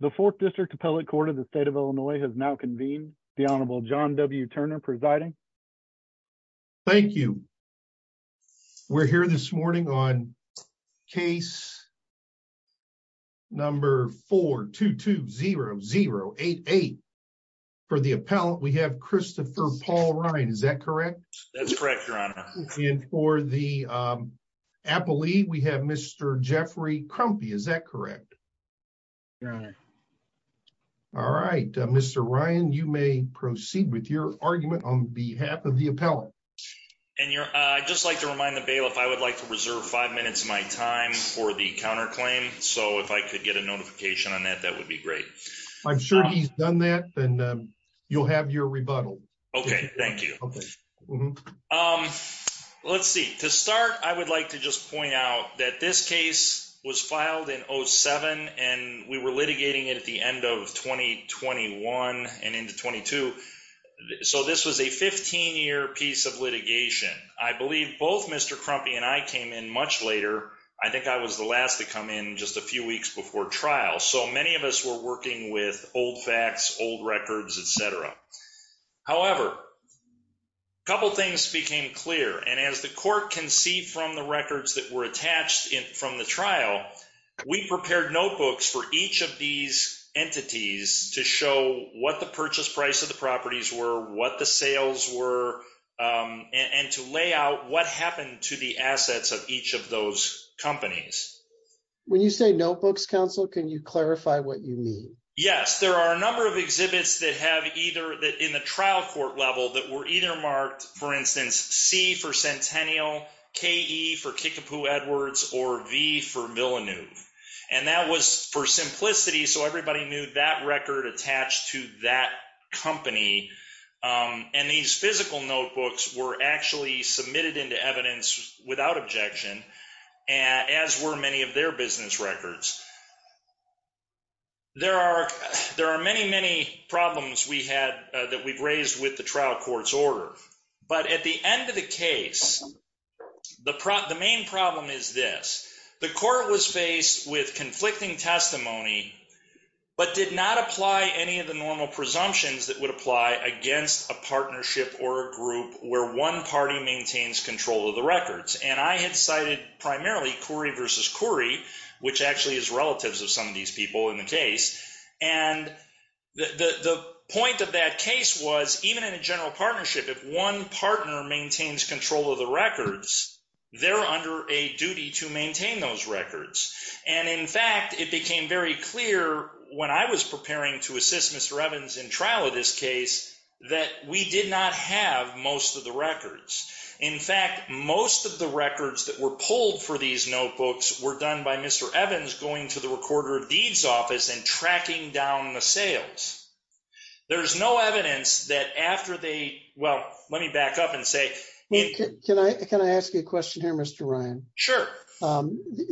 The Fourth District Appellate Court of the State of Illinois has now convened. The Honorable John W. Turner presiding. Thank you. We're here this morning on case number 4-2-2-0-0-8-8. For the appellant, we have Christopher Paul Ryan. Is that correct? That's correct, Your Honor. And for the appellee, we have Mr. Jeffrey Crumpy. Is that correct? Your Honor. All right. Mr. Ryan, you may proceed with your argument on behalf of the appellant. And I'd just like to remind the bailiff I would like to reserve five minutes of my time for the counterclaim. So if I could get a notification on that, that would be great. I'm sure he's done that. Then you'll have your rebuttal. Okay. Thank you. Let's see. To start, I would like to just point out that this case was filed in 2007, and we were litigating it at the end of 2021 and into 22. So this was a 15-year piece of litigation. I believe both Mr. Crumpy and I came in much later. I think I was the last to come in just a few weeks before trial. So many of us were working with old facts, old records, etc. However, a couple of things became clear. And as the court can see from the records that were attached from the trial, we prepared notebooks for each of these entities to show what the purchase price of the properties were, what the sales were, and to lay out what happened to the assets of each of those companies. When you say notebooks, counsel, can you clarify what you mean? Yes. There are a number of exhibits that in the trial court level that were either marked, for instance, C for Centennial, KE for Kickapoo Edwards, or V for Villeneuve. And that was for simplicity, so everybody knew that record attached to that company. And these physical notebooks were actually submitted into evidence without objection, as were many of their business records. There are many, many problems that we've raised with the trial court's order. But at the end of the case, the main problem is this. The court was faced with conflicting testimony, but did not apply any of the normal presumptions that would apply against a partnership or a group where one party maintains control of the records. And I had cited primarily Corey versus Corey, which actually is relatives of some of these people in the case. And the point of that case was, even in a general partnership, if one partner maintains control of the records, they're under a duty to maintain those records. And in fact, it became very clear when I was preparing to assist Mr. Evans in trial of this case that we did not have most of the records. In fact, most of the records that were pulled for these notebooks were done by Mr. Evans going to the recorder of deeds office and tracking down the sales. There's no evidence that after they, well, let me back up and say... Can I ask you a question here, Mr. Ryan? Sure.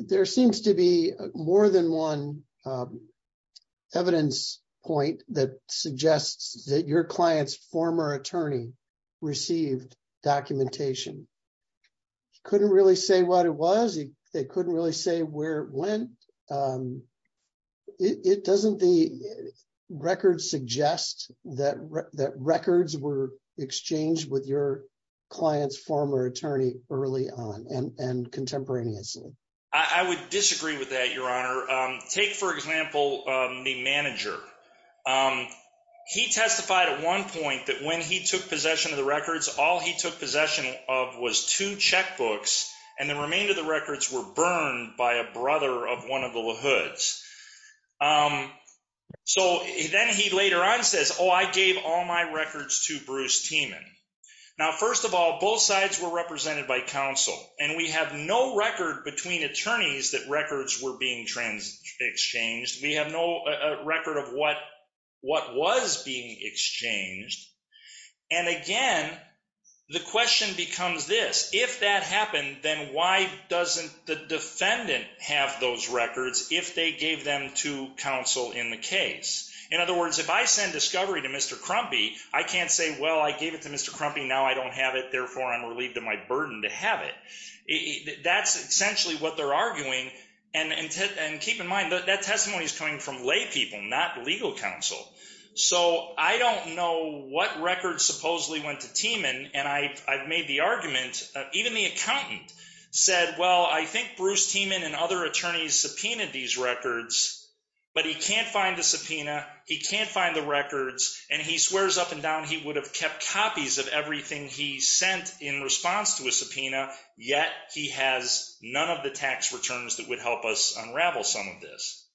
There seems to be more than one evidence point that suggests that your client's former attorney received documentation. He couldn't really say what it was. They couldn't really say where it went. Doesn't the record suggest that records were exchanged with your client's former attorney early on and contemporaneously? I would disagree with that, Your Honor. Take, for example, the manager. He testified at one point that when he took possession of the records, all he took possession of was two checkbooks, and the remainder of the records were burned by a brother of one of the LaHoods. So then he later on says, oh, I gave all my records to Bruce Tiemann. Now, first of all, both sides were represented by counsel, and we have no record between attorneys that records were being exchanged. We have no record of what was being exchanged. And again, the question becomes this. If that happened, then why doesn't the defendant have those records if they gave them to counsel in the case? In other words, if I send discovery to Mr. Crumpy, I can't say, well, I gave it to Mr. Crumpy. Now I don't have it. Therefore, I'm relieved of my burden to have it. That's essentially what they're arguing. And keep in mind, that testimony is coming from laypeople, not legal counsel. So I don't know what records supposedly went to Tiemann, and I've made the argument. Even the accountant said, well, I think Bruce Tiemann and other attorneys subpoenaed these records, but he can't find the subpoena. He can't find the records. And he swears up and down he would have kept copies of everything he in response to a subpoena, yet he has none of the tax returns that would help us unravel some of this.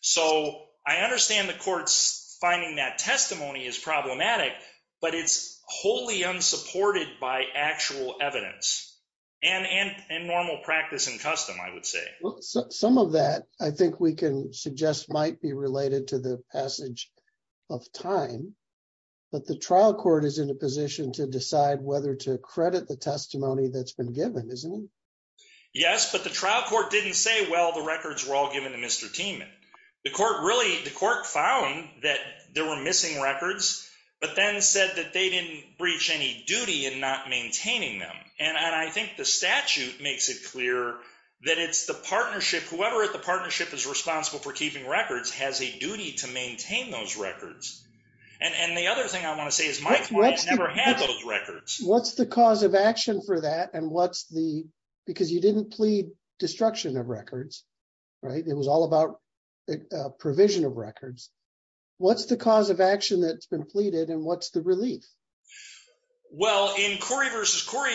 So I understand the court's finding that testimony is problematic, but it's wholly unsupported by actual evidence, and normal practice and custom, I would say. Some of that, I think we can suggest might be related to the passage of time. But the trial court is in a position to decide whether to credit the testimony that's been given, isn't it? Yes, but the trial court didn't say, well, the records were all given to Mr. Tiemann. The court found that there were missing records, but then said that they didn't breach any duty in not maintaining them. And I think the statute makes it clear that it's the partnership. Whoever at the partnership is responsible for keeping records has a duty to maintain those records. And the other thing I want to say is my client never had those records. What's the cause of action for that? Because you didn't plead destruction of records, right? It was all about provision of records. What's the cause of action that's been pleaded? And what's the relief? Well, in Corey versus Corey,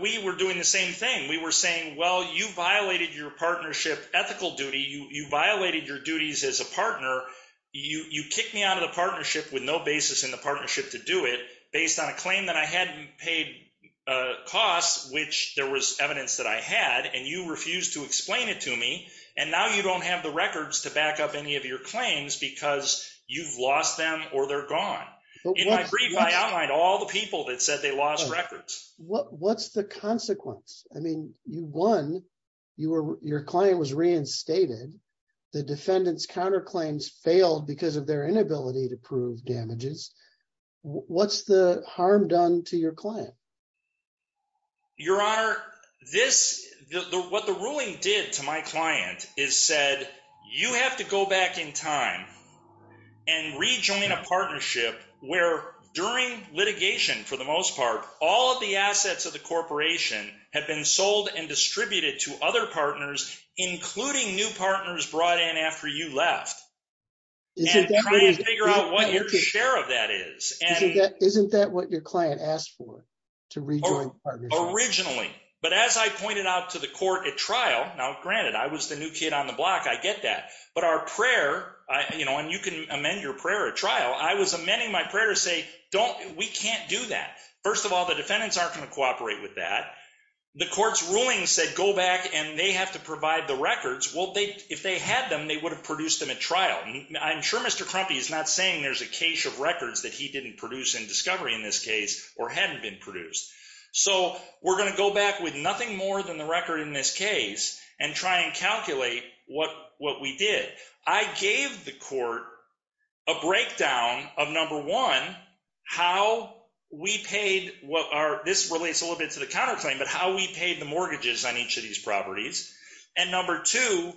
we were doing the same thing. We were saying, well, you violated your partnership ethical duty. You violated your duties as a partner. You kicked me out of the partnership with no basis in the partnership to do it, based on a claim that I hadn't paid costs, which there was evidence that I had, and you refused to explain it to me. And now you don't have the records to back up any of your claims because you've lost them or they're gone. In my brief, I outlined all the people that said they lost records. What's the consequence? I mean, you won. Your claim was reinstated. The defendant's counterclaims failed because of their inability to prove damages. What's the harm done to your client? Your Honor, what the ruling did to my client is said, you have to go back in time and rejoin a partnership where during litigation, for the most part, all of the assets of the corporation had been sold and distributed to other partners, including new partners brought in after you left, and trying to figure out what your share of that is. Isn't that what your client asked for, to rejoin the partnership? Originally. But as I pointed out to the court at trial, now granted, I was the new kid on the block. I get that. But our prayer, and you can amend your prayer at trial. I was amending my prayer to say, we can't do that. First of all, the defendants aren't going to cooperate with that. The court's ruling said, go back and they have to provide the records. Well, if they had them, they would have produced them at trial. I'm sure Mr. Crumpy is not saying there's a cache of records that he didn't produce in discovery in this case, or hadn't been produced. So we're going to go back with nothing more than the record in this case, and try and calculate what we did. I gave the court a breakdown of number one, how we paid, this relates a little bit to the counterclaim, but how we paid the mortgages on each of these properties. And number two,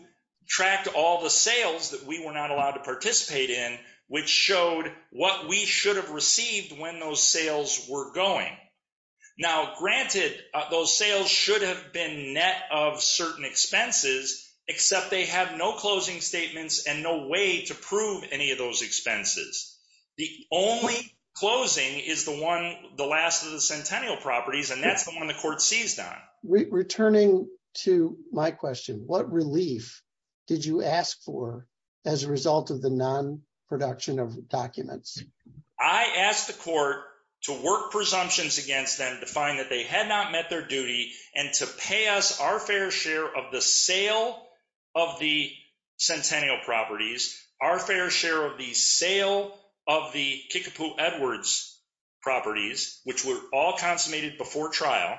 tracked all the sales that we were not allowed to participate in, which showed what we should have received when those sales were going. Now granted, those sales should have been net of certain expenses, except they have no closing statements and no way to prove any of those expenses. The only closing is the one, the last of the centennial properties, and that's the one the court seized on. Returning to my question, what relief did you ask for as a result of the non-production of documents? I asked the court to work presumptions against them to find that they had not met their duty and to pay us our fair share of the sale of the centennial properties, our fair share of the sale of the Kickapoo Edwards properties, which were all consummated before trial.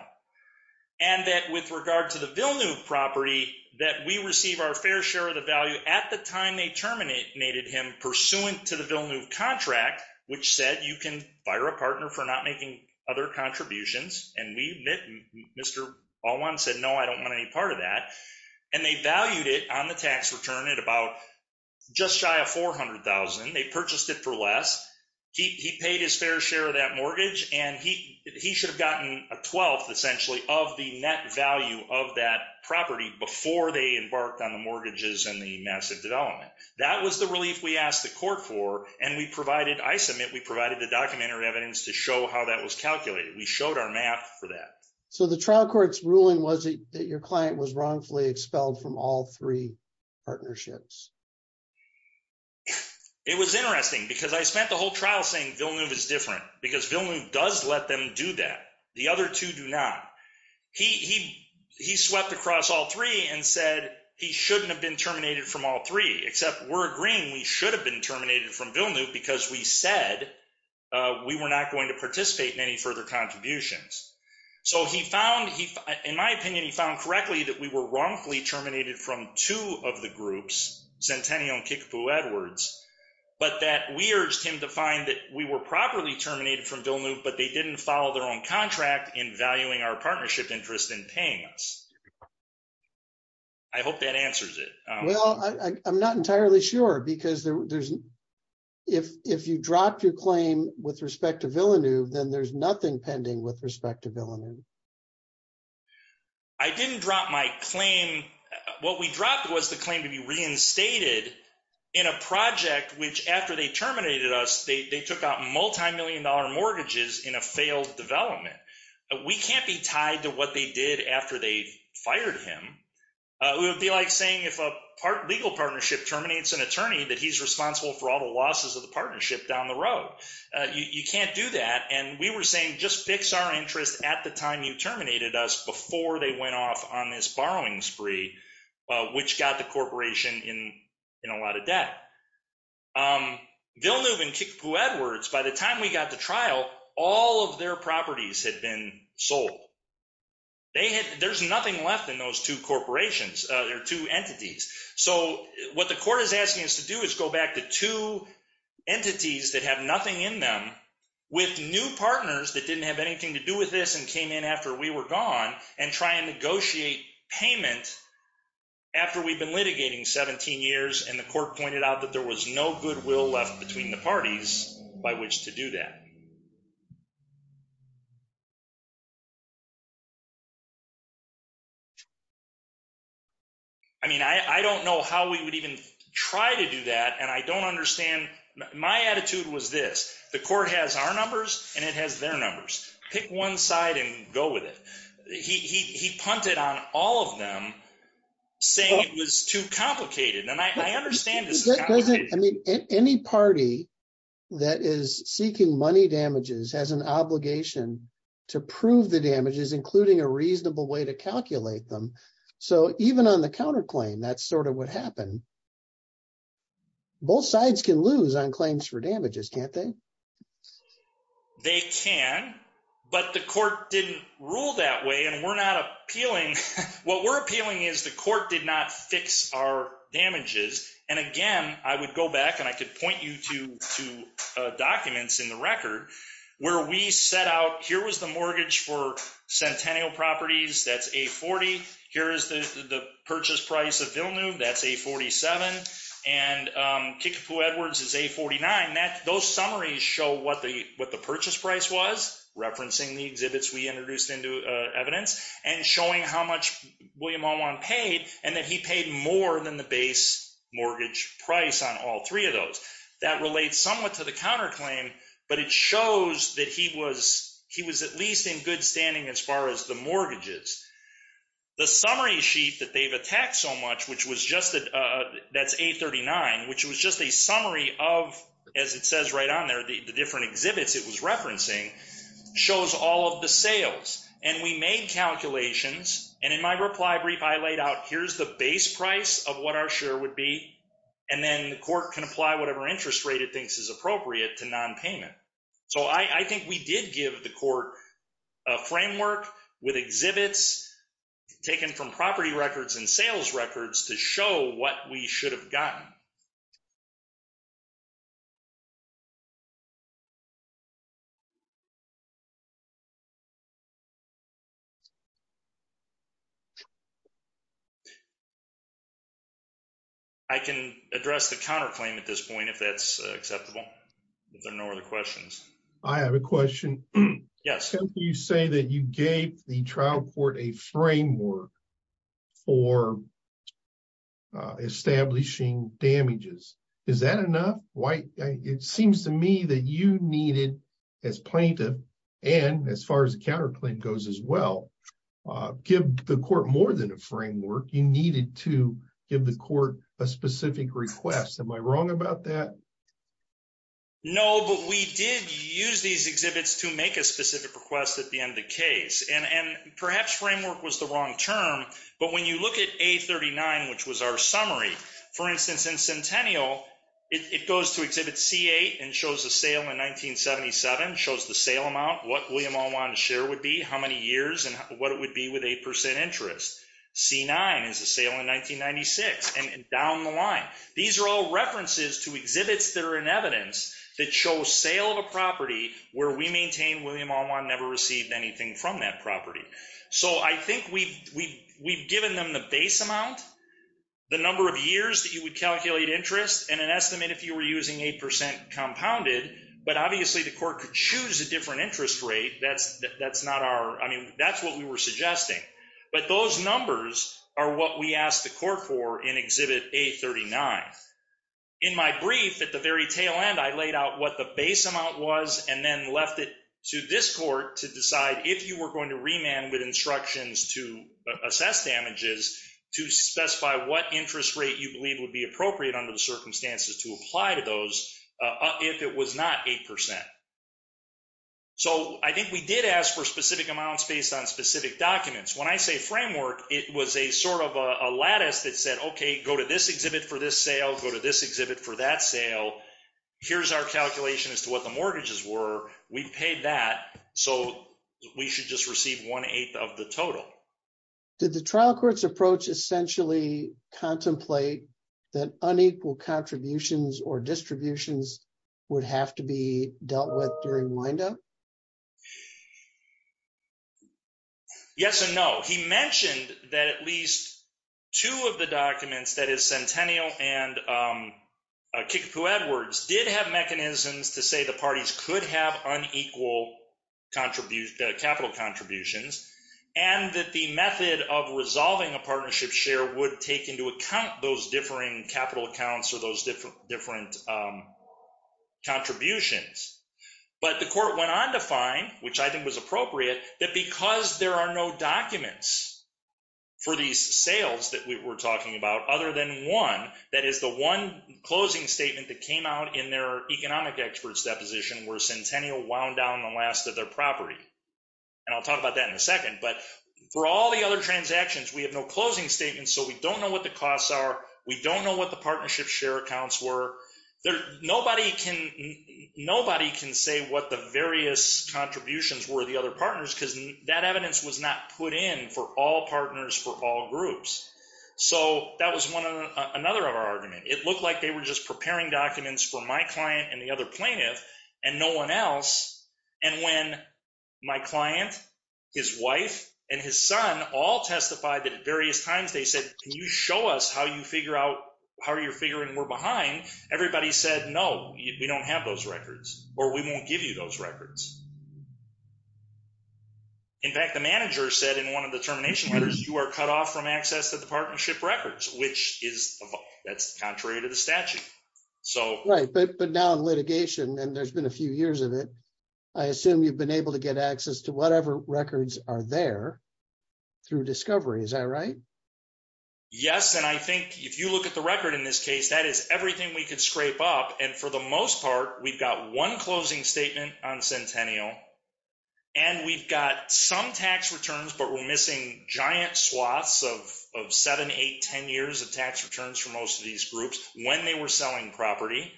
And that with regard to the Villeneuve property, that we receive our fair share of the value at the time they terminated him pursuant to the Villeneuve contract, which said you can fire a partner for not making other contributions. And we admit, Mr. Alwan said, no, I don't want any part of that. And they valued it on the tax return at about just shy of $400,000. They purchased it for He paid his fair share of that mortgage, and he should have gotten a twelfth essentially of the net value of that property before they embarked on the mortgages and the massive development. That was the relief we asked the court for, and we provided, I submit, we provided the documentary evidence to show how that was calculated. We showed our math for that. So the trial court's ruling was that your client was wrongfully expelled from all three partnerships. It was interesting because I spent the whole trial saying Villeneuve is different, because Villeneuve does let them do that. The other two do not. He swept across all three and said, he shouldn't have been terminated from all three, except we're agreeing we should have been terminated from Villeneuve because we said we were not going to participate in any further contributions. So he found, in my opinion, he found correctly that we were wrongfully terminated from two of the groups, Centennial and Kickapoo Edwards, but that we urged him to find that we were properly terminated from Villeneuve, but they didn't follow their own contract in valuing our partnership interest in paying us. I hope that answers it. Well, I'm not entirely sure, because there's, if you drop your claim with respect to Villeneuve, then there's nothing with respect to Villeneuve. I didn't drop my claim. What we dropped was the claim to be reinstated in a project, which after they terminated us, they took out multimillion dollar mortgages in a failed development. We can't be tied to what they did after they fired him. It would be like saying if a legal partnership terminates an attorney, that he's responsible for all the at the time you terminated us before they went off on this borrowing spree, which got the corporation in a lot of debt. Villeneuve and Kickapoo Edwards, by the time we got to trial, all of their properties had been sold. There's nothing left in those two corporations, their two entities. So what the court is asking us to do is go back to two partners that didn't have anything to do with this and came in after we were gone and try and negotiate payment after we've been litigating 17 years and the court pointed out that there was no goodwill left between the parties by which to do that. I mean, I don't know how we would even try to do that, and I don't understand. My attitude was this. The court has our numbers and it has their numbers. Pick one side and go with it. He punted on all of them saying it was too complicated, and I understand this. I mean, any party that is seeking money damages has an obligation to prove the damages, including a reasonable way to calculate them. So even on the counterclaim, that's sort of what happened. Both sides can lose on claims for damages, can't they? They can, but the court didn't rule that way, and what we're appealing is the court did not fix our damages. And again, I would go back and I could point you to documents in the record where we set out, here was the mortgage for Centennial Properties, that's A40. Here is the purchase price of Villeneuve, that's A47, and Kickapoo Edwards is A49. Those summaries show what the purchase price was, referencing the exhibits we introduced into evidence, and showing how much William Owen paid and that he paid more than the base mortgage price on all of those. That relates somewhat to the counterclaim, but it shows that he was at least in good standing as far as the mortgages. The summary sheet that they've attacked so much, that's A39, which was just a summary of, as it says right on there, the different exhibits it was referencing, shows all of the sales. And we made calculations, and in my reply brief, I laid out, here's the base price of what our share would be, and then the court can apply whatever interest rate it thinks is appropriate to non-payment. So I think we did give the court a framework with exhibits taken from property records and sales records to show what we were doing. I can address the counterclaim at this point if that's acceptable, if there are no other questions. I have a question. Yes. You say that you gave the trial court a framework for establishing damages. Is that enough? It seems to me that you needed, as plaintiff, and as far as counterclaim goes as well, give the court more than a framework. You needed to give the court a specific request. Am I wrong about that? No, but we did use these exhibits to make a specific request at the end of the case. And perhaps framework was the wrong term, but when you look at A39, which was our summary, for instance, in Centennial, it goes to exhibit C8 and shows a sale in 1977, shows the sale amount, what William Alwan's share would be, how many years, and what it would be with 8% interest. C9 is a sale in 1996, and down the line. These are all references to exhibits that are in evidence that show sale of a property where we maintain William Alwan never received anything from that property. So I think we've given them the base amount, the number of years that you would calculate interest, and an estimate if you were using 8% compounded, but obviously the court could choose a different interest rate. That's not our, I mean, that's what we were suggesting. But those numbers are what we asked the court for in exhibit A39. In my brief, at the very tail end, I laid out what the base amount was and then left it to this court to decide if you were going to remand with instructions to assess damages to specify what interest rate you believe would be appropriate under the circumstances to apply to those if it was not 8%. So I think we did ask for specific amounts based on specific documents. When I say framework, it was a sort of a lattice that said, okay, go to this exhibit for this sale, go to this exhibit for that sale. Here's our calculation as to what the mortgages were. We paid that, so we should just receive one-eighth of the total. Did the trial court's or distributions would have to be dealt with during wind-up? Yes and no. He mentioned that at least two of the documents, that is Centennial and Kickapoo-Edwards did have mechanisms to say the parties could have unequal capital contributions, and that the method of resolving a partnership share would take into account those differing capital accounts or those different contributions. But the court went on to find, which I think was appropriate, that because there are no documents for these sales that we were talking about other than one, that is the one closing statement that came out in their economic experts' deposition where Centennial wound down the last of their property, and I'll talk about that in a second, but for all the other transactions, we have no closing statements, so we don't know what the partnership share accounts were. Nobody can say what the various contributions were of the other partners because that evidence was not put in for all partners for all groups, so that was one of another of our argument. It looked like they were just preparing documents for my client and the other plaintiff and no one else, and when my client, his wife, and his son all testified that at various times they said, can you show us how you figure out how you're figuring we're behind, everybody said, no, we don't have those records, or we won't give you those records. In fact, the manager said in one of the termination letters, you are cut off from access to the partnership records, which is, that's contrary to the statute. Right, but now in litigation, and there's been a few years of it, I assume you've been able to get access to whatever records are there, through discovery, is that right? Yes, and I think if you look at the record in this case, that is everything we could scrape up, and for the most part, we've got one closing statement on Centennial, and we've got some tax returns, but we're missing giant swaths of seven, eight, ten years of tax returns for most of these groups when they were selling property,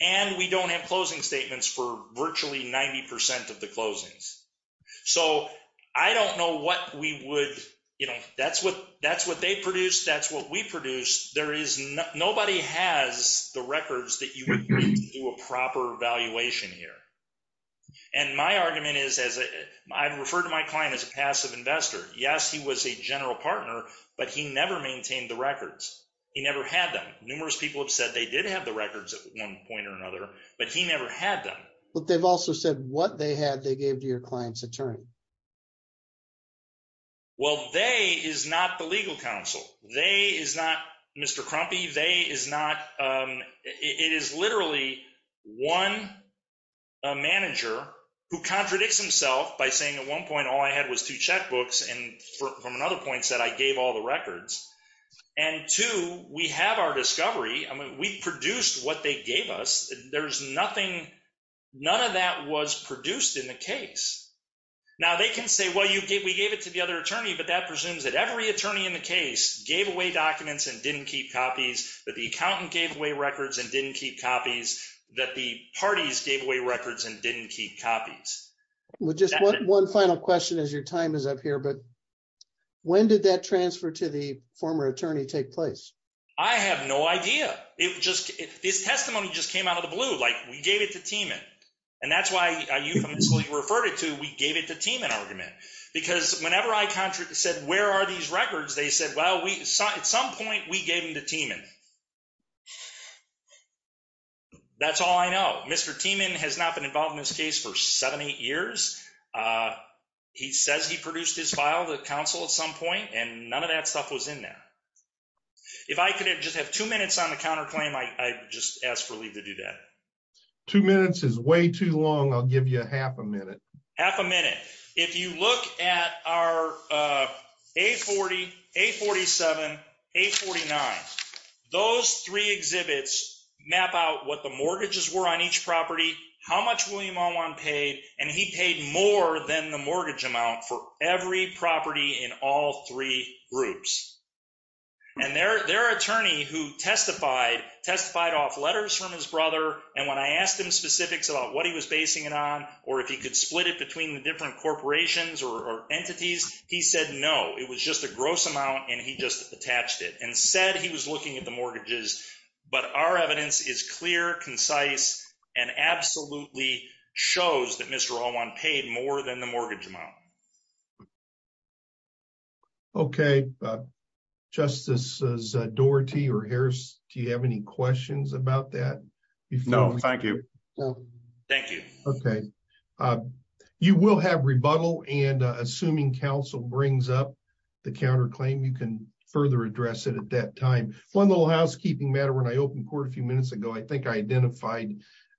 and we don't have closing statements for virtually 90 percent of the closings, so I don't know what we would, you know, that's what they produce, that's what we produce, there is, nobody has the records that you would need to do a proper evaluation here, and my argument is, as I refer to my client as a passive investor, yes, he was a general partner, but he never maintained the records, he never had them, numerous people have said they did have the records at one point or another, but he never had them, but they've also said what they had, they gave to your client's attorney. Well, they is not the legal counsel, they is not Mr. Crumpy, they is not, it is literally one manager who contradicts himself by saying at one point all I had was two checkbooks, and from another point said I gave all the records, and two, we have our discovery, I mean, we produced what they gave us, there is nothing, none of that was produced in the case. Now, they can say, well, we gave it to the other attorney, but that presumes that every attorney in the case gave away documents and didn't keep copies, that the accountant gave away records and didn't keep copies, that the parties gave away records and didn't keep copies. Well, just one final question as your time is up here, but when did that transfer to the former attorney take place? I have no idea, it just, this testimony just came out of the blue, like we gave it to Tiemann, and that's why I euphemistically referred it to, we gave it to Tiemann argument, because whenever I said where are these records, they said, well, at some point we gave them to Tiemann. That's all I know, Mr. Tiemann has not been involved in this case for seven, eight years, he says he produced his file, the counsel at some point, and none of that stuff was in there. If I could just have two minutes on the counterclaim, I just asked for Lee to do that. Two minutes is way too long, I'll give you a half a minute. Half a minute. If you look at our A40, A47, A49, those three exhibits map out what the mortgages were on each property, how much William Alwine paid, and he paid more than the mortgage amount for every property in all three groups. And their attorney who testified, testified off letters from his brother, and when I asked him specifics about what he was basing it on, or if he could split it between the different corporations or entities, he said no, it was just a gross amount, and he just attached it, and said he was looking at the mortgages, but our evidence is clear, concise, and absolutely shows that Mr. Alwine paid more than the mortgage amount. Okay, Justices Doherty or Harris, do you have any questions about that? No, thank you. Thank you. Okay. You will have rebuttal, and assuming counsel brings up the counterclaim, you can further address it at that time. One little housekeeping matter, when I opened court a identified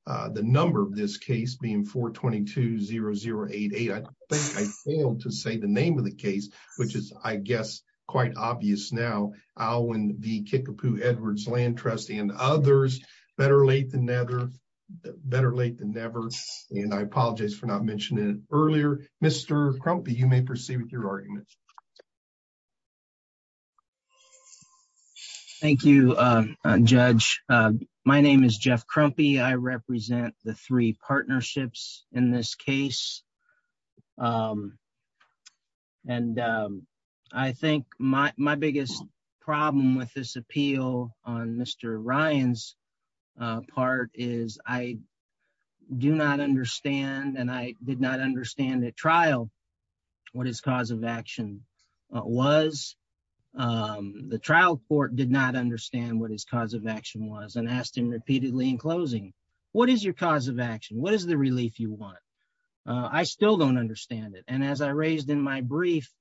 the number of this case being 422-0088. I think I failed to say the name of the case, which is, I guess, quite obvious now. Alwine v. Kickapoo Edwards, land trustee, and others, better late than never, better late than never, and I apologize for not mentioning it earlier. Mr. Crumpy, you may proceed with your argument. Thank you, Judge. My name is Jeff Crumpy. I represent the three partnerships in this case, and I think my biggest problem with this appeal on Mr. Ryan's part is I do not understand, and I did not understand at trial, what his cause of action was. The trial court did not understand what his cause of action was and asked him repeatedly in closing, what is your cause of action? What is the relief you want? I still don't understand it, and as I raised in my brief,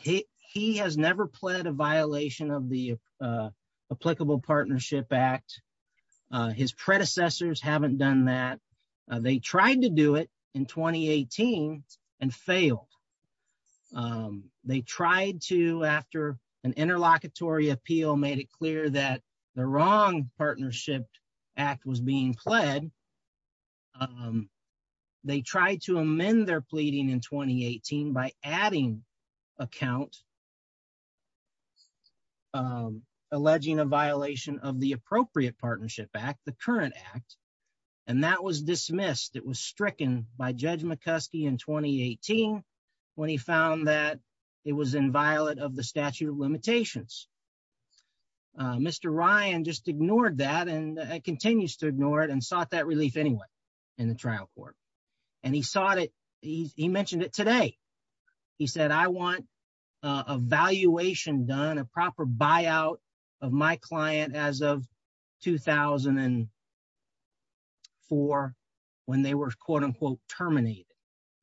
he has never pled a violation of the Applicable Partnership Act. His predecessors haven't done that. They tried to do it in 2018 and failed. They tried to, after an interlocutory appeal made it clear that the wrong Partnership Act was being pled, they tried to amend their pleading in 2018 by adding a count alleging a violation of the Appropriate Partnership Act, the current act, and that was dismissed. It was stricken by Judge McCuskey in 2018 when he found that it was inviolate of the statute of limitations. Mr. Ryan just ignored that and continues to ignore it and sought that relief anyway in the trial court, and he sought it. He mentioned it today. He said, I want a valuation done, a proper buyout of my client as of 2004 when they were terminated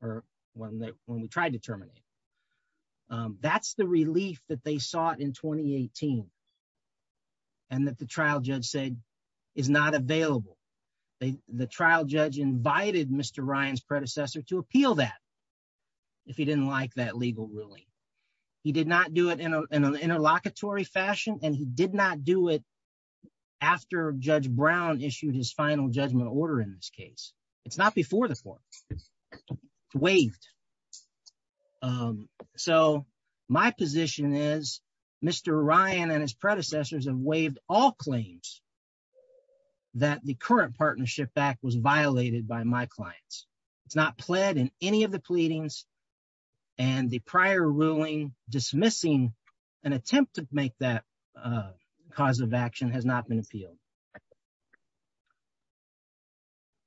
or when we tried to terminate. That's the relief that they sought in 2018 and that the trial judge said is not available. The trial judge invited Mr. Ryan's predecessor to appeal that if he didn't like that legal ruling. He did not do it in an interlocutory fashion and he did not do it after Judge Brown issued his final judgment order in this case. It's not before the court. It's waived. So my position is Mr. Ryan and his predecessors have waived all claims that the current Partnership Act was violated by my clients. It's not pled in any of the pleadings and the prior ruling dismissing an attempt to make that cause of action has not been appealed.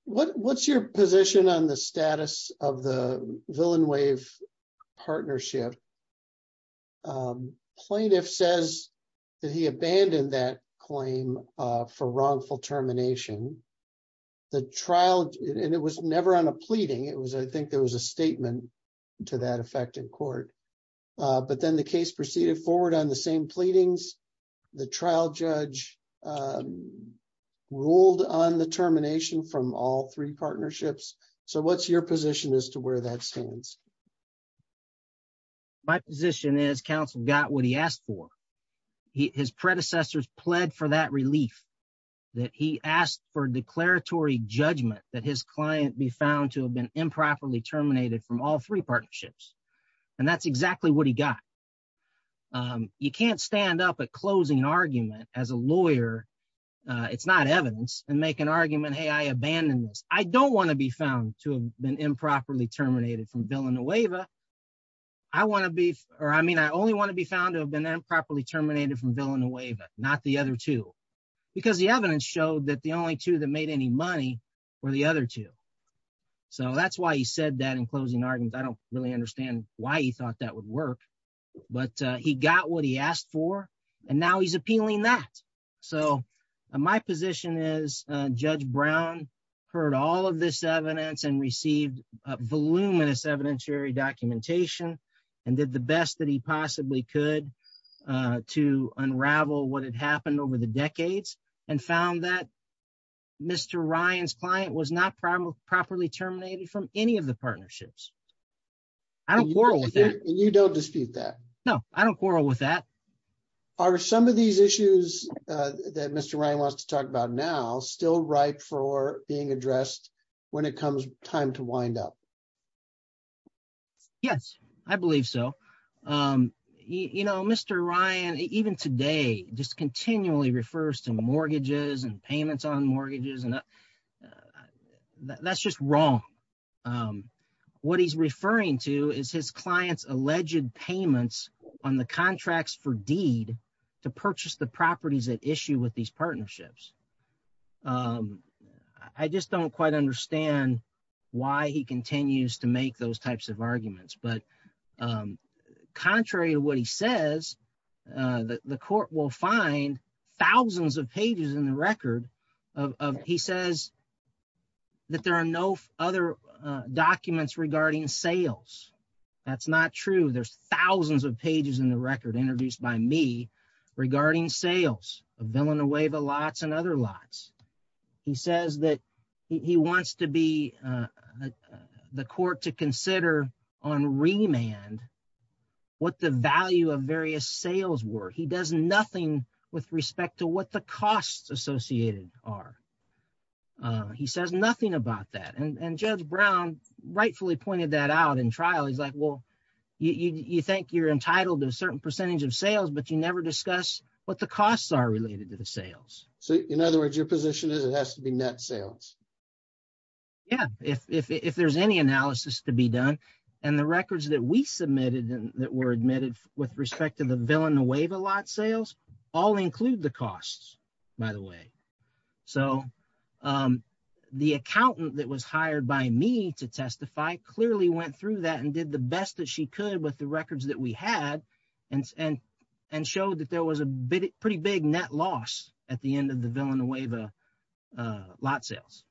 What's your position on the status of the Villain Wave Partnership? Plaintiff says that he abandoned that claim for wrongful termination. The trial and it was never on a pleading. It was I think there was a statement to that effect in court, but then the case proceeded forward on the same pleadings. The trial judge ruled on the termination from all three partnerships. So what's your position as to where that stands? My position is counsel got what he asked for. His predecessors pled for that relief that he asked for declaratory judgment that his client be found to have been improperly terminated from all three partnerships. And that's exactly what he got. You can't stand up at closing argument as a lawyer. It's not evidence and make an argument. Hey, I abandoned this. I don't want to be found to have been improperly terminated from Villain Wave, not the other two, because the evidence showed that the only two that made any money were the other two. So that's why he said that in closing arguments. I don't really understand why he thought that would work, but he got what he asked for and now he's appealing that. So my position is Judge Brown heard all of this evidence and received a voluminous evidentiary documentation and did the best that he possibly could to unravel what had happened over the decades and found that Mr. Ryan's client was not properly terminated from any of the partnerships. I don't quarrel with that. And you don't dispute that? No, I don't quarrel with that. Are some of these issues that Mr. Ryan wants to talk about now still ripe for being addressed when it comes time to wind up? Yes, I believe so. You know, Mr. Ryan, even today, just continually refers to mortgages and payments on mortgages, and that's just wrong. What he's referring to is his client's alleged payments on the contracts for the properties at issue with these partnerships. I just don't quite understand why he continues to make those types of arguments. But contrary to what he says, the court will find thousands of pages in the record of he says that there are no other documents regarding sales. That's not true. There's thousands of pages in the record introduced by me regarding sales of Villanova lots and other lots. He says that he wants to be the court to consider on remand what the value of various sales were. He does nothing with respect to what the costs associated are. He says nothing about that. And Judge Brown rightfully pointed that out in trial. He's like, you think you're entitled to a certain percentage of sales, but you never discuss what the costs are related to the sales. So in other words, your position is it has to be net sales. Yeah, if there's any analysis to be done and the records that we submitted that were admitted with respect to the Villanova lot sales all include the costs, by the way. So the accountant that was hired by me to testify clearly went through that and did the best that she could with the records that we had and showed that there was a pretty big net loss at the end of the Villanova lot sales.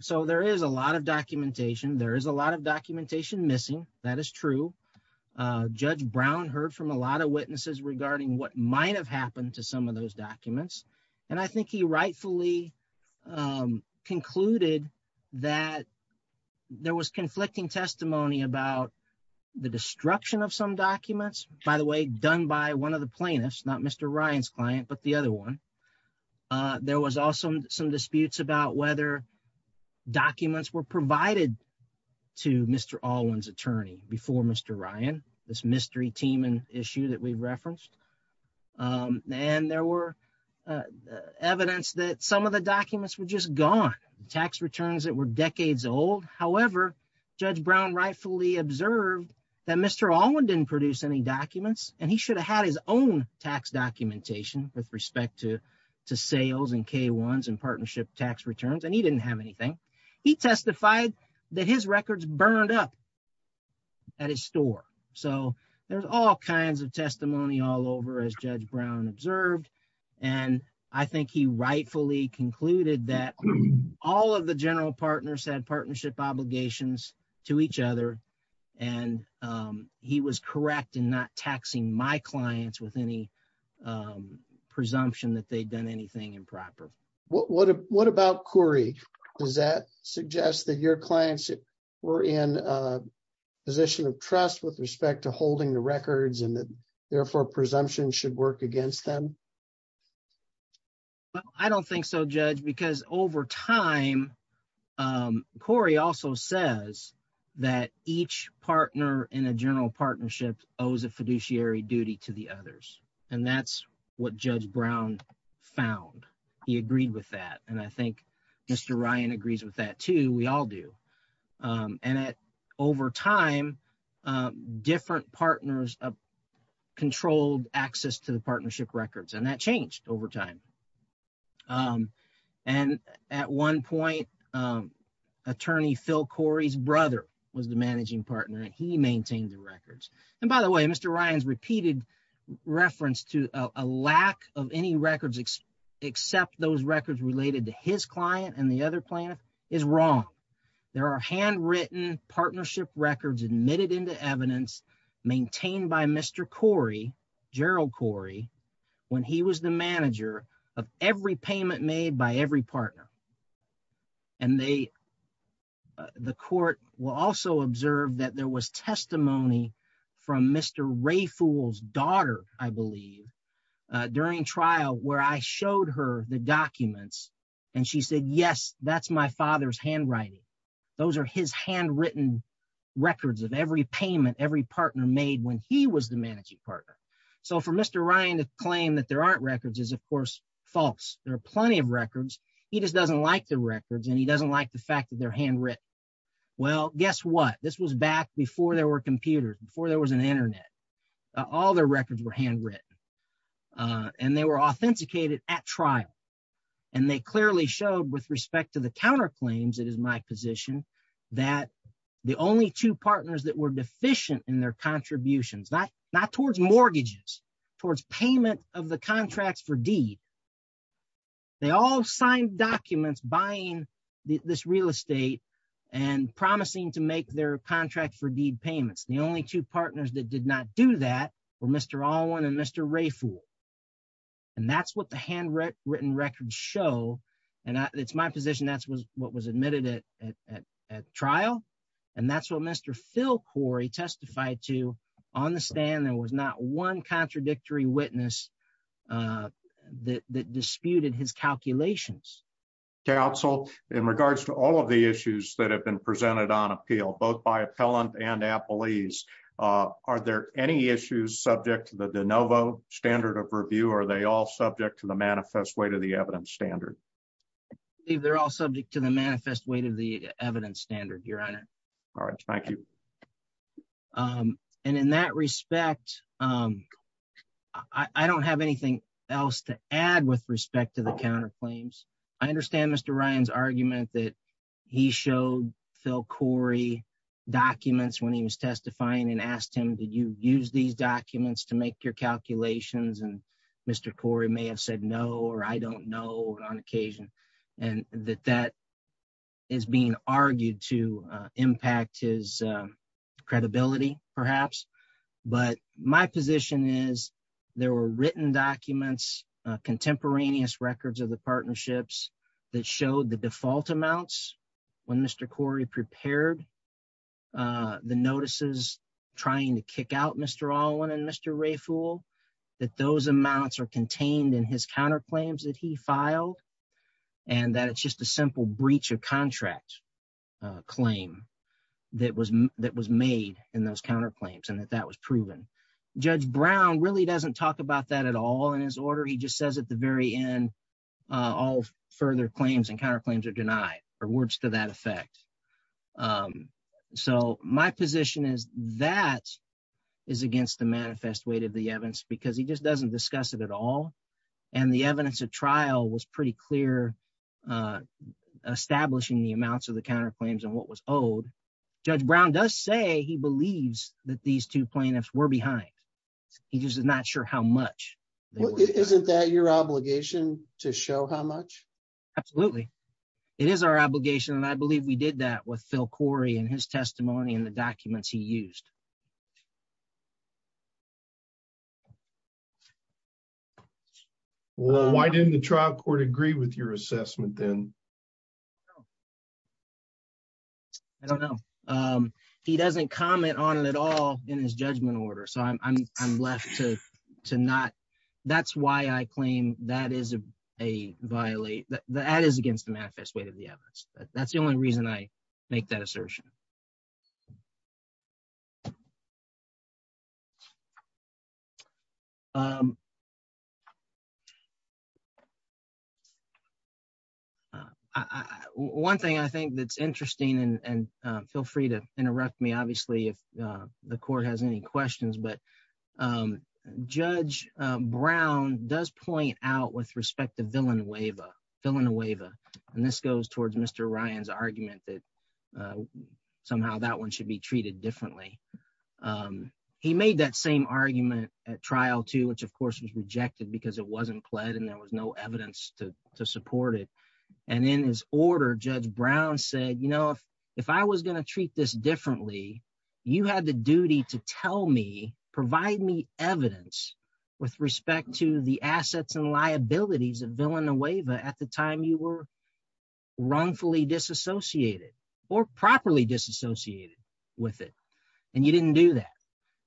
So there is a lot of documentation. There is a lot of documentation missing. That is true. Judge Brown heard from a lot of witnesses regarding what I think he rightfully concluded that there was conflicting testimony about the destruction of some documents, by the way, done by one of the plaintiffs, not Mr. Ryan's client, but the other one. There was also some disputes about whether documents were provided to Mr. Alwyn's attorney before Mr. Ryan, this mystery team and issue that we referenced. And there were evidence that some of the documents were just gone, tax returns that were decades old. However, Judge Brown rightfully observed that Mr. Alwyn didn't produce any documents and he should have had his own tax documentation with respect to sales and K-1s and partnership tax returns, and he didn't have he testified that his records burned up at his store. So there's all kinds of testimony all over as Judge Brown observed. And I think he rightfully concluded that all of the general partners had partnership obligations to each other. And he was correct in not taxing my clients with any presumption that they'd done anything improper. What about Corey? Does that suggest that your clients were in a position of trust with respect to holding the records and therefore presumption should work against them? I don't think so, Judge, because over time, Corey also says that each partner in a general partnership owes a fiduciary duty to the others. And that's what Judge Brown found. He agreed with that. And I think Mr. Ryan agrees with that too. We all do. And over time, different partners controlled access to the partnership records, and that changed over time. And at one point, attorney Phil Corey's brother was the managing partner, and he maintained the records. And by the way, Mr. Ryan's repeated reference to a lack of any records except those records related to his client and the other plaintiff is wrong. There are handwritten partnership records admitted into evidence maintained by Mr. Corey, Gerald Corey, when he was the manager of every payment made by every partner. And they, the court will also observe that there was testimony from Mr. Ray Fool's daughter, I believe, during trial where I showed her the documents. And she said, yes, that's my father's handwriting. Those are his handwritten records of every payment every partner made when he was the managing partner. So for Mr. Ryan to claim that there aren't records is, of course, false. There are plenty of records. He just doesn't like the records, and he doesn't like the fact that they're handwritten. Well, guess what? This was back before there were computers, before there was an internet. All the records were handwritten. And they were authenticated at trial. And they clearly showed with respect to the counterclaims, it is my position, that the only two partners that were deficient in their contributions, not towards mortgages, towards payment of the they all signed documents buying this real estate and promising to make their contract for deed payments. The only two partners that did not do that were Mr. Alwyn and Mr. Ray Fool. And that's what the handwritten records show. And it's my position, that's what was admitted at trial. And that's what Mr. Phil Corey testified to on the stand. There was not one contradictory witness that disputed his calculations. Counsel, in regards to all of the issues that have been presented on appeal, both by appellant and appellees, are there any issues subject to the de novo standard of review? Are they all subject to the manifest weight of the evidence standard? They're all subject to the manifest weight of the I don't have anything else to add with respect to the counterclaims. I understand Mr. Ryan's argument that he showed Phil Corey documents when he was testifying and asked him, did you use these documents to make your calculations? And Mr. Corey may have said no, or I don't know on occasion, and that that is being argued to impact his credibility, perhaps. But my position is there were written documents, contemporaneous records of the partnerships that showed the default amounts when Mr. Corey prepared the notices trying to kick out Mr. Alwyn and Mr. Ray Fool, that those amounts are contained in his counterclaims that he filed. And that it's just a simple breach of contract claim that was made in those counterclaims and that that was proven. Judge Brown really doesn't talk about that at all in his order. He just says at the very end, all further claims and counterclaims are denied or words to that effect. So my position is that is against the manifest weight of the evidence because he just doesn't discuss it at all. And the evidence of trial was pretty clear, establishing the amounts of the counterclaims what was owed. Judge Brown does say he believes that these two plaintiffs were behind. He just is not sure how much. Isn't that your obligation to show how much? Absolutely. It is our obligation. And I believe we did that with Phil Corey and his testimony and the documents he used. Well, why didn't the trial court agree with your assessment then? I don't know. He doesn't comment on it at all in his judgment order. So I'm left to not. That's why I claim that is against the manifest weight of the evidence. That's the only reason I make that assertion. One thing I think that's interesting and feel free to interrupt me, obviously, if the court has any questions, but Judge Brown does point out with respect to Villanueva. And this goes towards Mr. Ryan's argument that somehow that one should be treated differently. He made that same argument at trial, too, which, of course, was rejected because it wasn't pled and there was no evidence to support it. And in his order, Judge Brown said, you know, if I was going to treat this differently, you had the duty to tell me, provide me evidence with respect to the assets and liabilities of Villanueva at the time you were wrongfully disassociated or properly disassociated with it. And you didn't do that.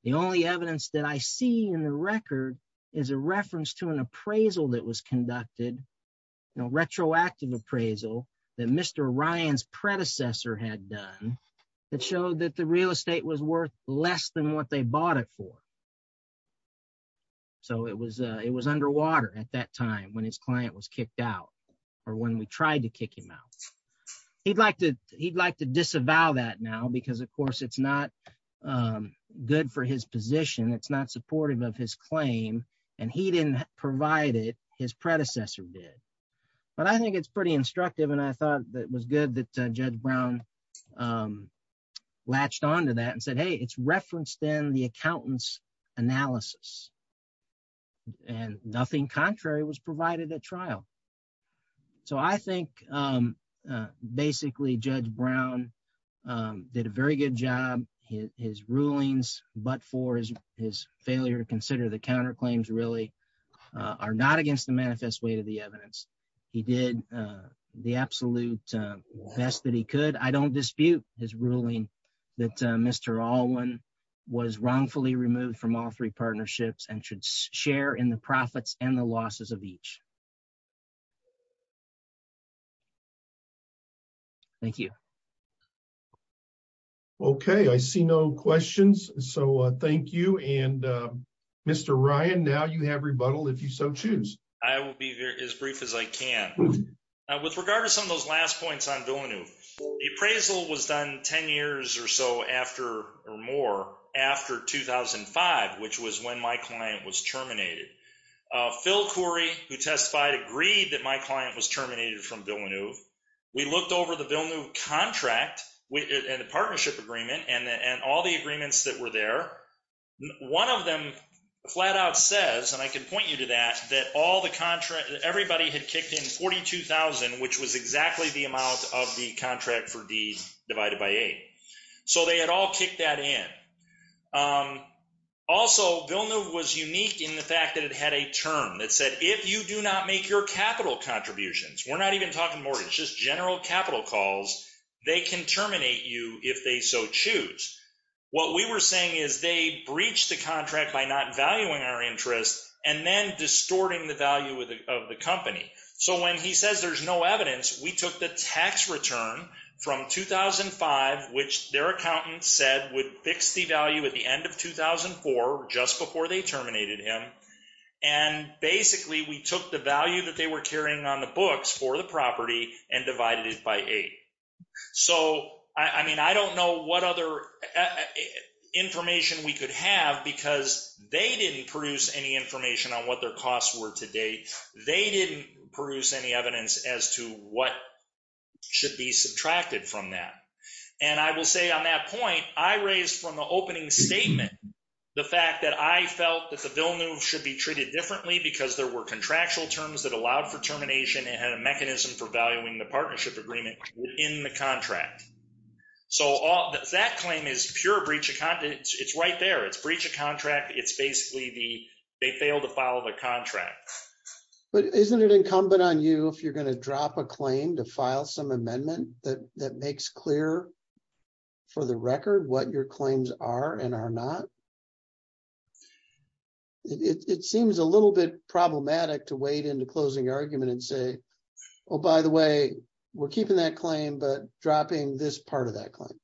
The only evidence that I see in the record is a reference to an appraisal that was conducted, you know, retroactive appraisal that Mr. Ryan's predecessor had done that showed that the real estate was worth less than what they bought it for. So it was it was underwater at that time when his client was kicked out or when we tried to kick him out. He'd like to he'd like to disavow that now, because, of course, it's not good for his position. It's not supportive of his claim. And he didn't provide it. His predecessor did. But I think it's pretty instructive. And I thought that was good that Judge Brown latched on to that and said, hey, it's referenced in the accountant's analysis. And nothing contrary was provided at trial. So I think basically Judge Brown did a very good job, his rulings, but for his failure to consider the counterclaims really are not against the manifest way to the evidence. He did the absolute best that he could. I don't dispute his ruling that Mr. Alwyn was wrongfully removed from all three partnerships and should share in the profits and the losses of each. Thank you. OK, I see no questions. So thank you. And Mr. Ryan, now you have rebuttal if you so choose. I will be as brief as I can. With regard to some of those last points on Villeneuve, the appraisal was done 10 years or so after or more after 2005, which was when my client was terminated. Phil Khoury, who testified, agreed that my client was terminated from Villeneuve. We looked over the Villeneuve contract and the partnership agreement and all the agreements that were there. One of them flat out says, and I can point you to that, that all the contract, everybody had kicked in $42,000, which was exactly the amount of the contract for D divided by 8. So they had all kicked that in. Also, Villeneuve was unique in the fact that it had a term that said, if you do not make your capital contributions, we're not even talking mortgage, just general capital calls, they can terminate you if they so choose. What we were saying is they breached the contract by not valuing our interest and then distorting the value of the company. So when he says there's no evidence, we took the tax return from 2005, which their accountant said would fix the value at the end of 2004, just before they terminated him. And and divided it by 8. So, I mean, I don't know what other information we could have because they didn't produce any information on what their costs were to date. They didn't produce any evidence as to what should be subtracted from that. And I will say on that point, I raised from the opening statement, the fact that I felt that the Villeneuve should be treated differently because there were contractual terms that allowed for termination and had a mechanism for valuing the partnership agreement in the contract. So that claim is pure breach of content. It's right there. It's breach of contract. It's basically they failed to follow the contract. But isn't it incumbent on you if you're going to drop a claim to file some amendment that makes clear for the record what your claims are and are not? It seems a little bit problematic to wade into closing argument and say, oh, by the way, we're keeping that claim, but dropping this part of that claim.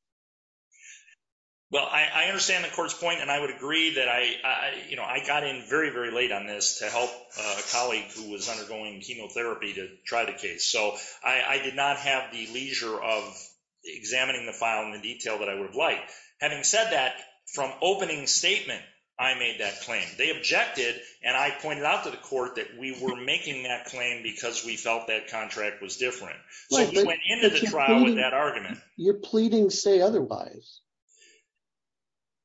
Well, I understand the court's point, and I would agree that I, you know, I got in very, very late on this to help a colleague who was undergoing chemotherapy to try the case. So I did not have the leisure of examining the file in the detail that I would have liked. Having said that, from opening statement, I made that claim. They objected, and I pointed out to the court that we were making that claim because we felt that contract was different. So we went into the trial with that argument. You're pleading say otherwise.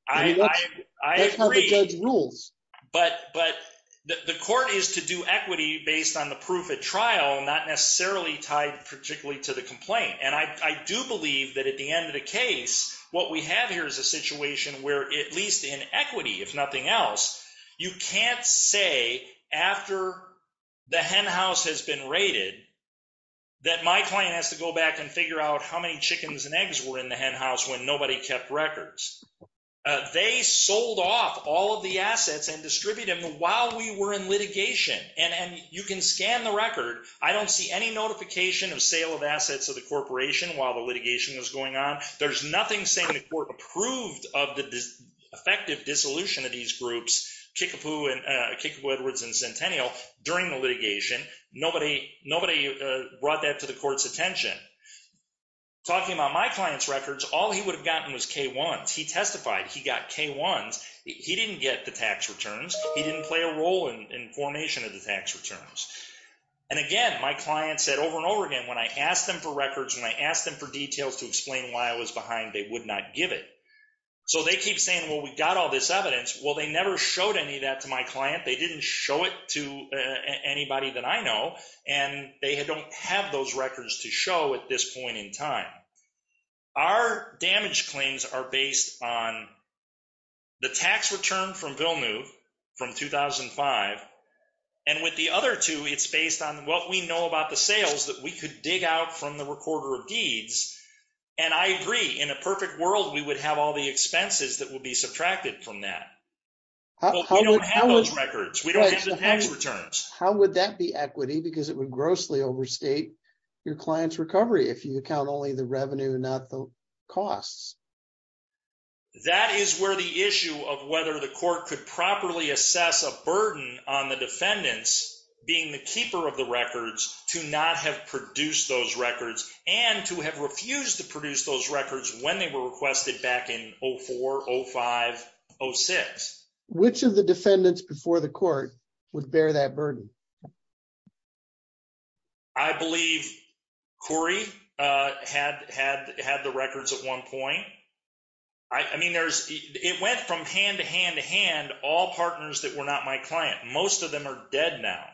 I agree. That's how the judge rules. But the court is to do equity based on the proof at trial, not necessarily tied particularly to the complaint. And I do believe that at the end of the case, what we have here is a situation where at least in equity, if nothing else, you can't say after the hen house has been raided that my client has to go back and figure out how many chickens and eggs were in the hen house when nobody kept records. They sold off all of the assets and distributed them while we were in while the litigation was going on. There's nothing saying the court approved of the effective dissolution of these groups, Kickapoo, Edwards, and Centennial, during the litigation. Nobody brought that to the court's attention. Talking about my client's records, all he would have gotten was K1s. He testified he got K1s. He didn't get the tax returns. He didn't play a role in formation of the tax returns. And again, my client said over and over again, when I asked them for records, when I asked them for details to explain why I was behind, they would not give it. So they keep saying, well, we've got all this evidence. Well, they never showed any of that to my client. They didn't show it to anybody that I know. And they don't have those records to show at this point in time. Our damage claims are based on the tax return from Villeneuve from 2005. And with the other two, it's based on what we know about the sales that we could dig out from the recorder of deeds. And I agree, in a perfect world, we would have all the expenses that would be subtracted from that. We don't have those records. We don't have the tax returns. How would that be equity? Because it would grossly overstate your client's recovery if you count only the revenue, not the costs. That is where the issue of whether the court could properly assess a burden on the defendants being the keeper of the records to not have produced those records and to have refused to produce those records when they were requested back in 04, 05, 06. Which of the defendants before the court would bear that burden? I believe Corey had the records at one point. I mean, it went from hand to hand to hand, all partners that were not my client. Most of them are dead now.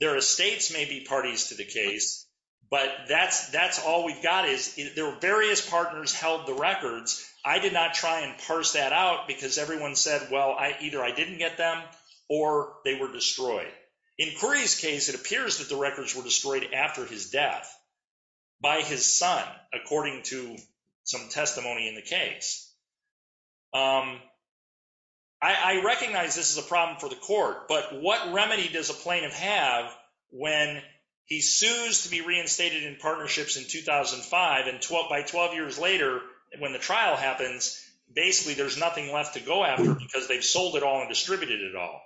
Their estates may be parties to the case, but that's all we've got is there were various partners held the records. I did not try and parse that out because everyone said, well, either I didn't get them or they were not. In Corey's case, it appears that the records were destroyed after his death by his son, according to some testimony in the case. I recognize this is a problem for the court, but what remedy does a plaintiff have when he sues to be reinstated in partnerships in 2005 and by 12 years later, when the trial happens, basically there's nothing left to go after because they've sold it all and distributed it all.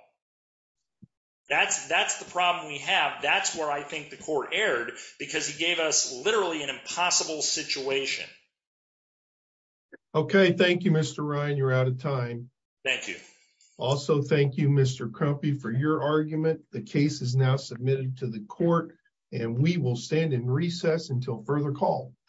That's the problem we have. That's where I think the court erred because he gave us literally an impossible situation. Okay. Thank you, Mr. Ryan. You're out of time. Thank you. Also, thank you, Mr. Crumpy, for your argument. The case is now submitted to the court and we will stand in recess until further call.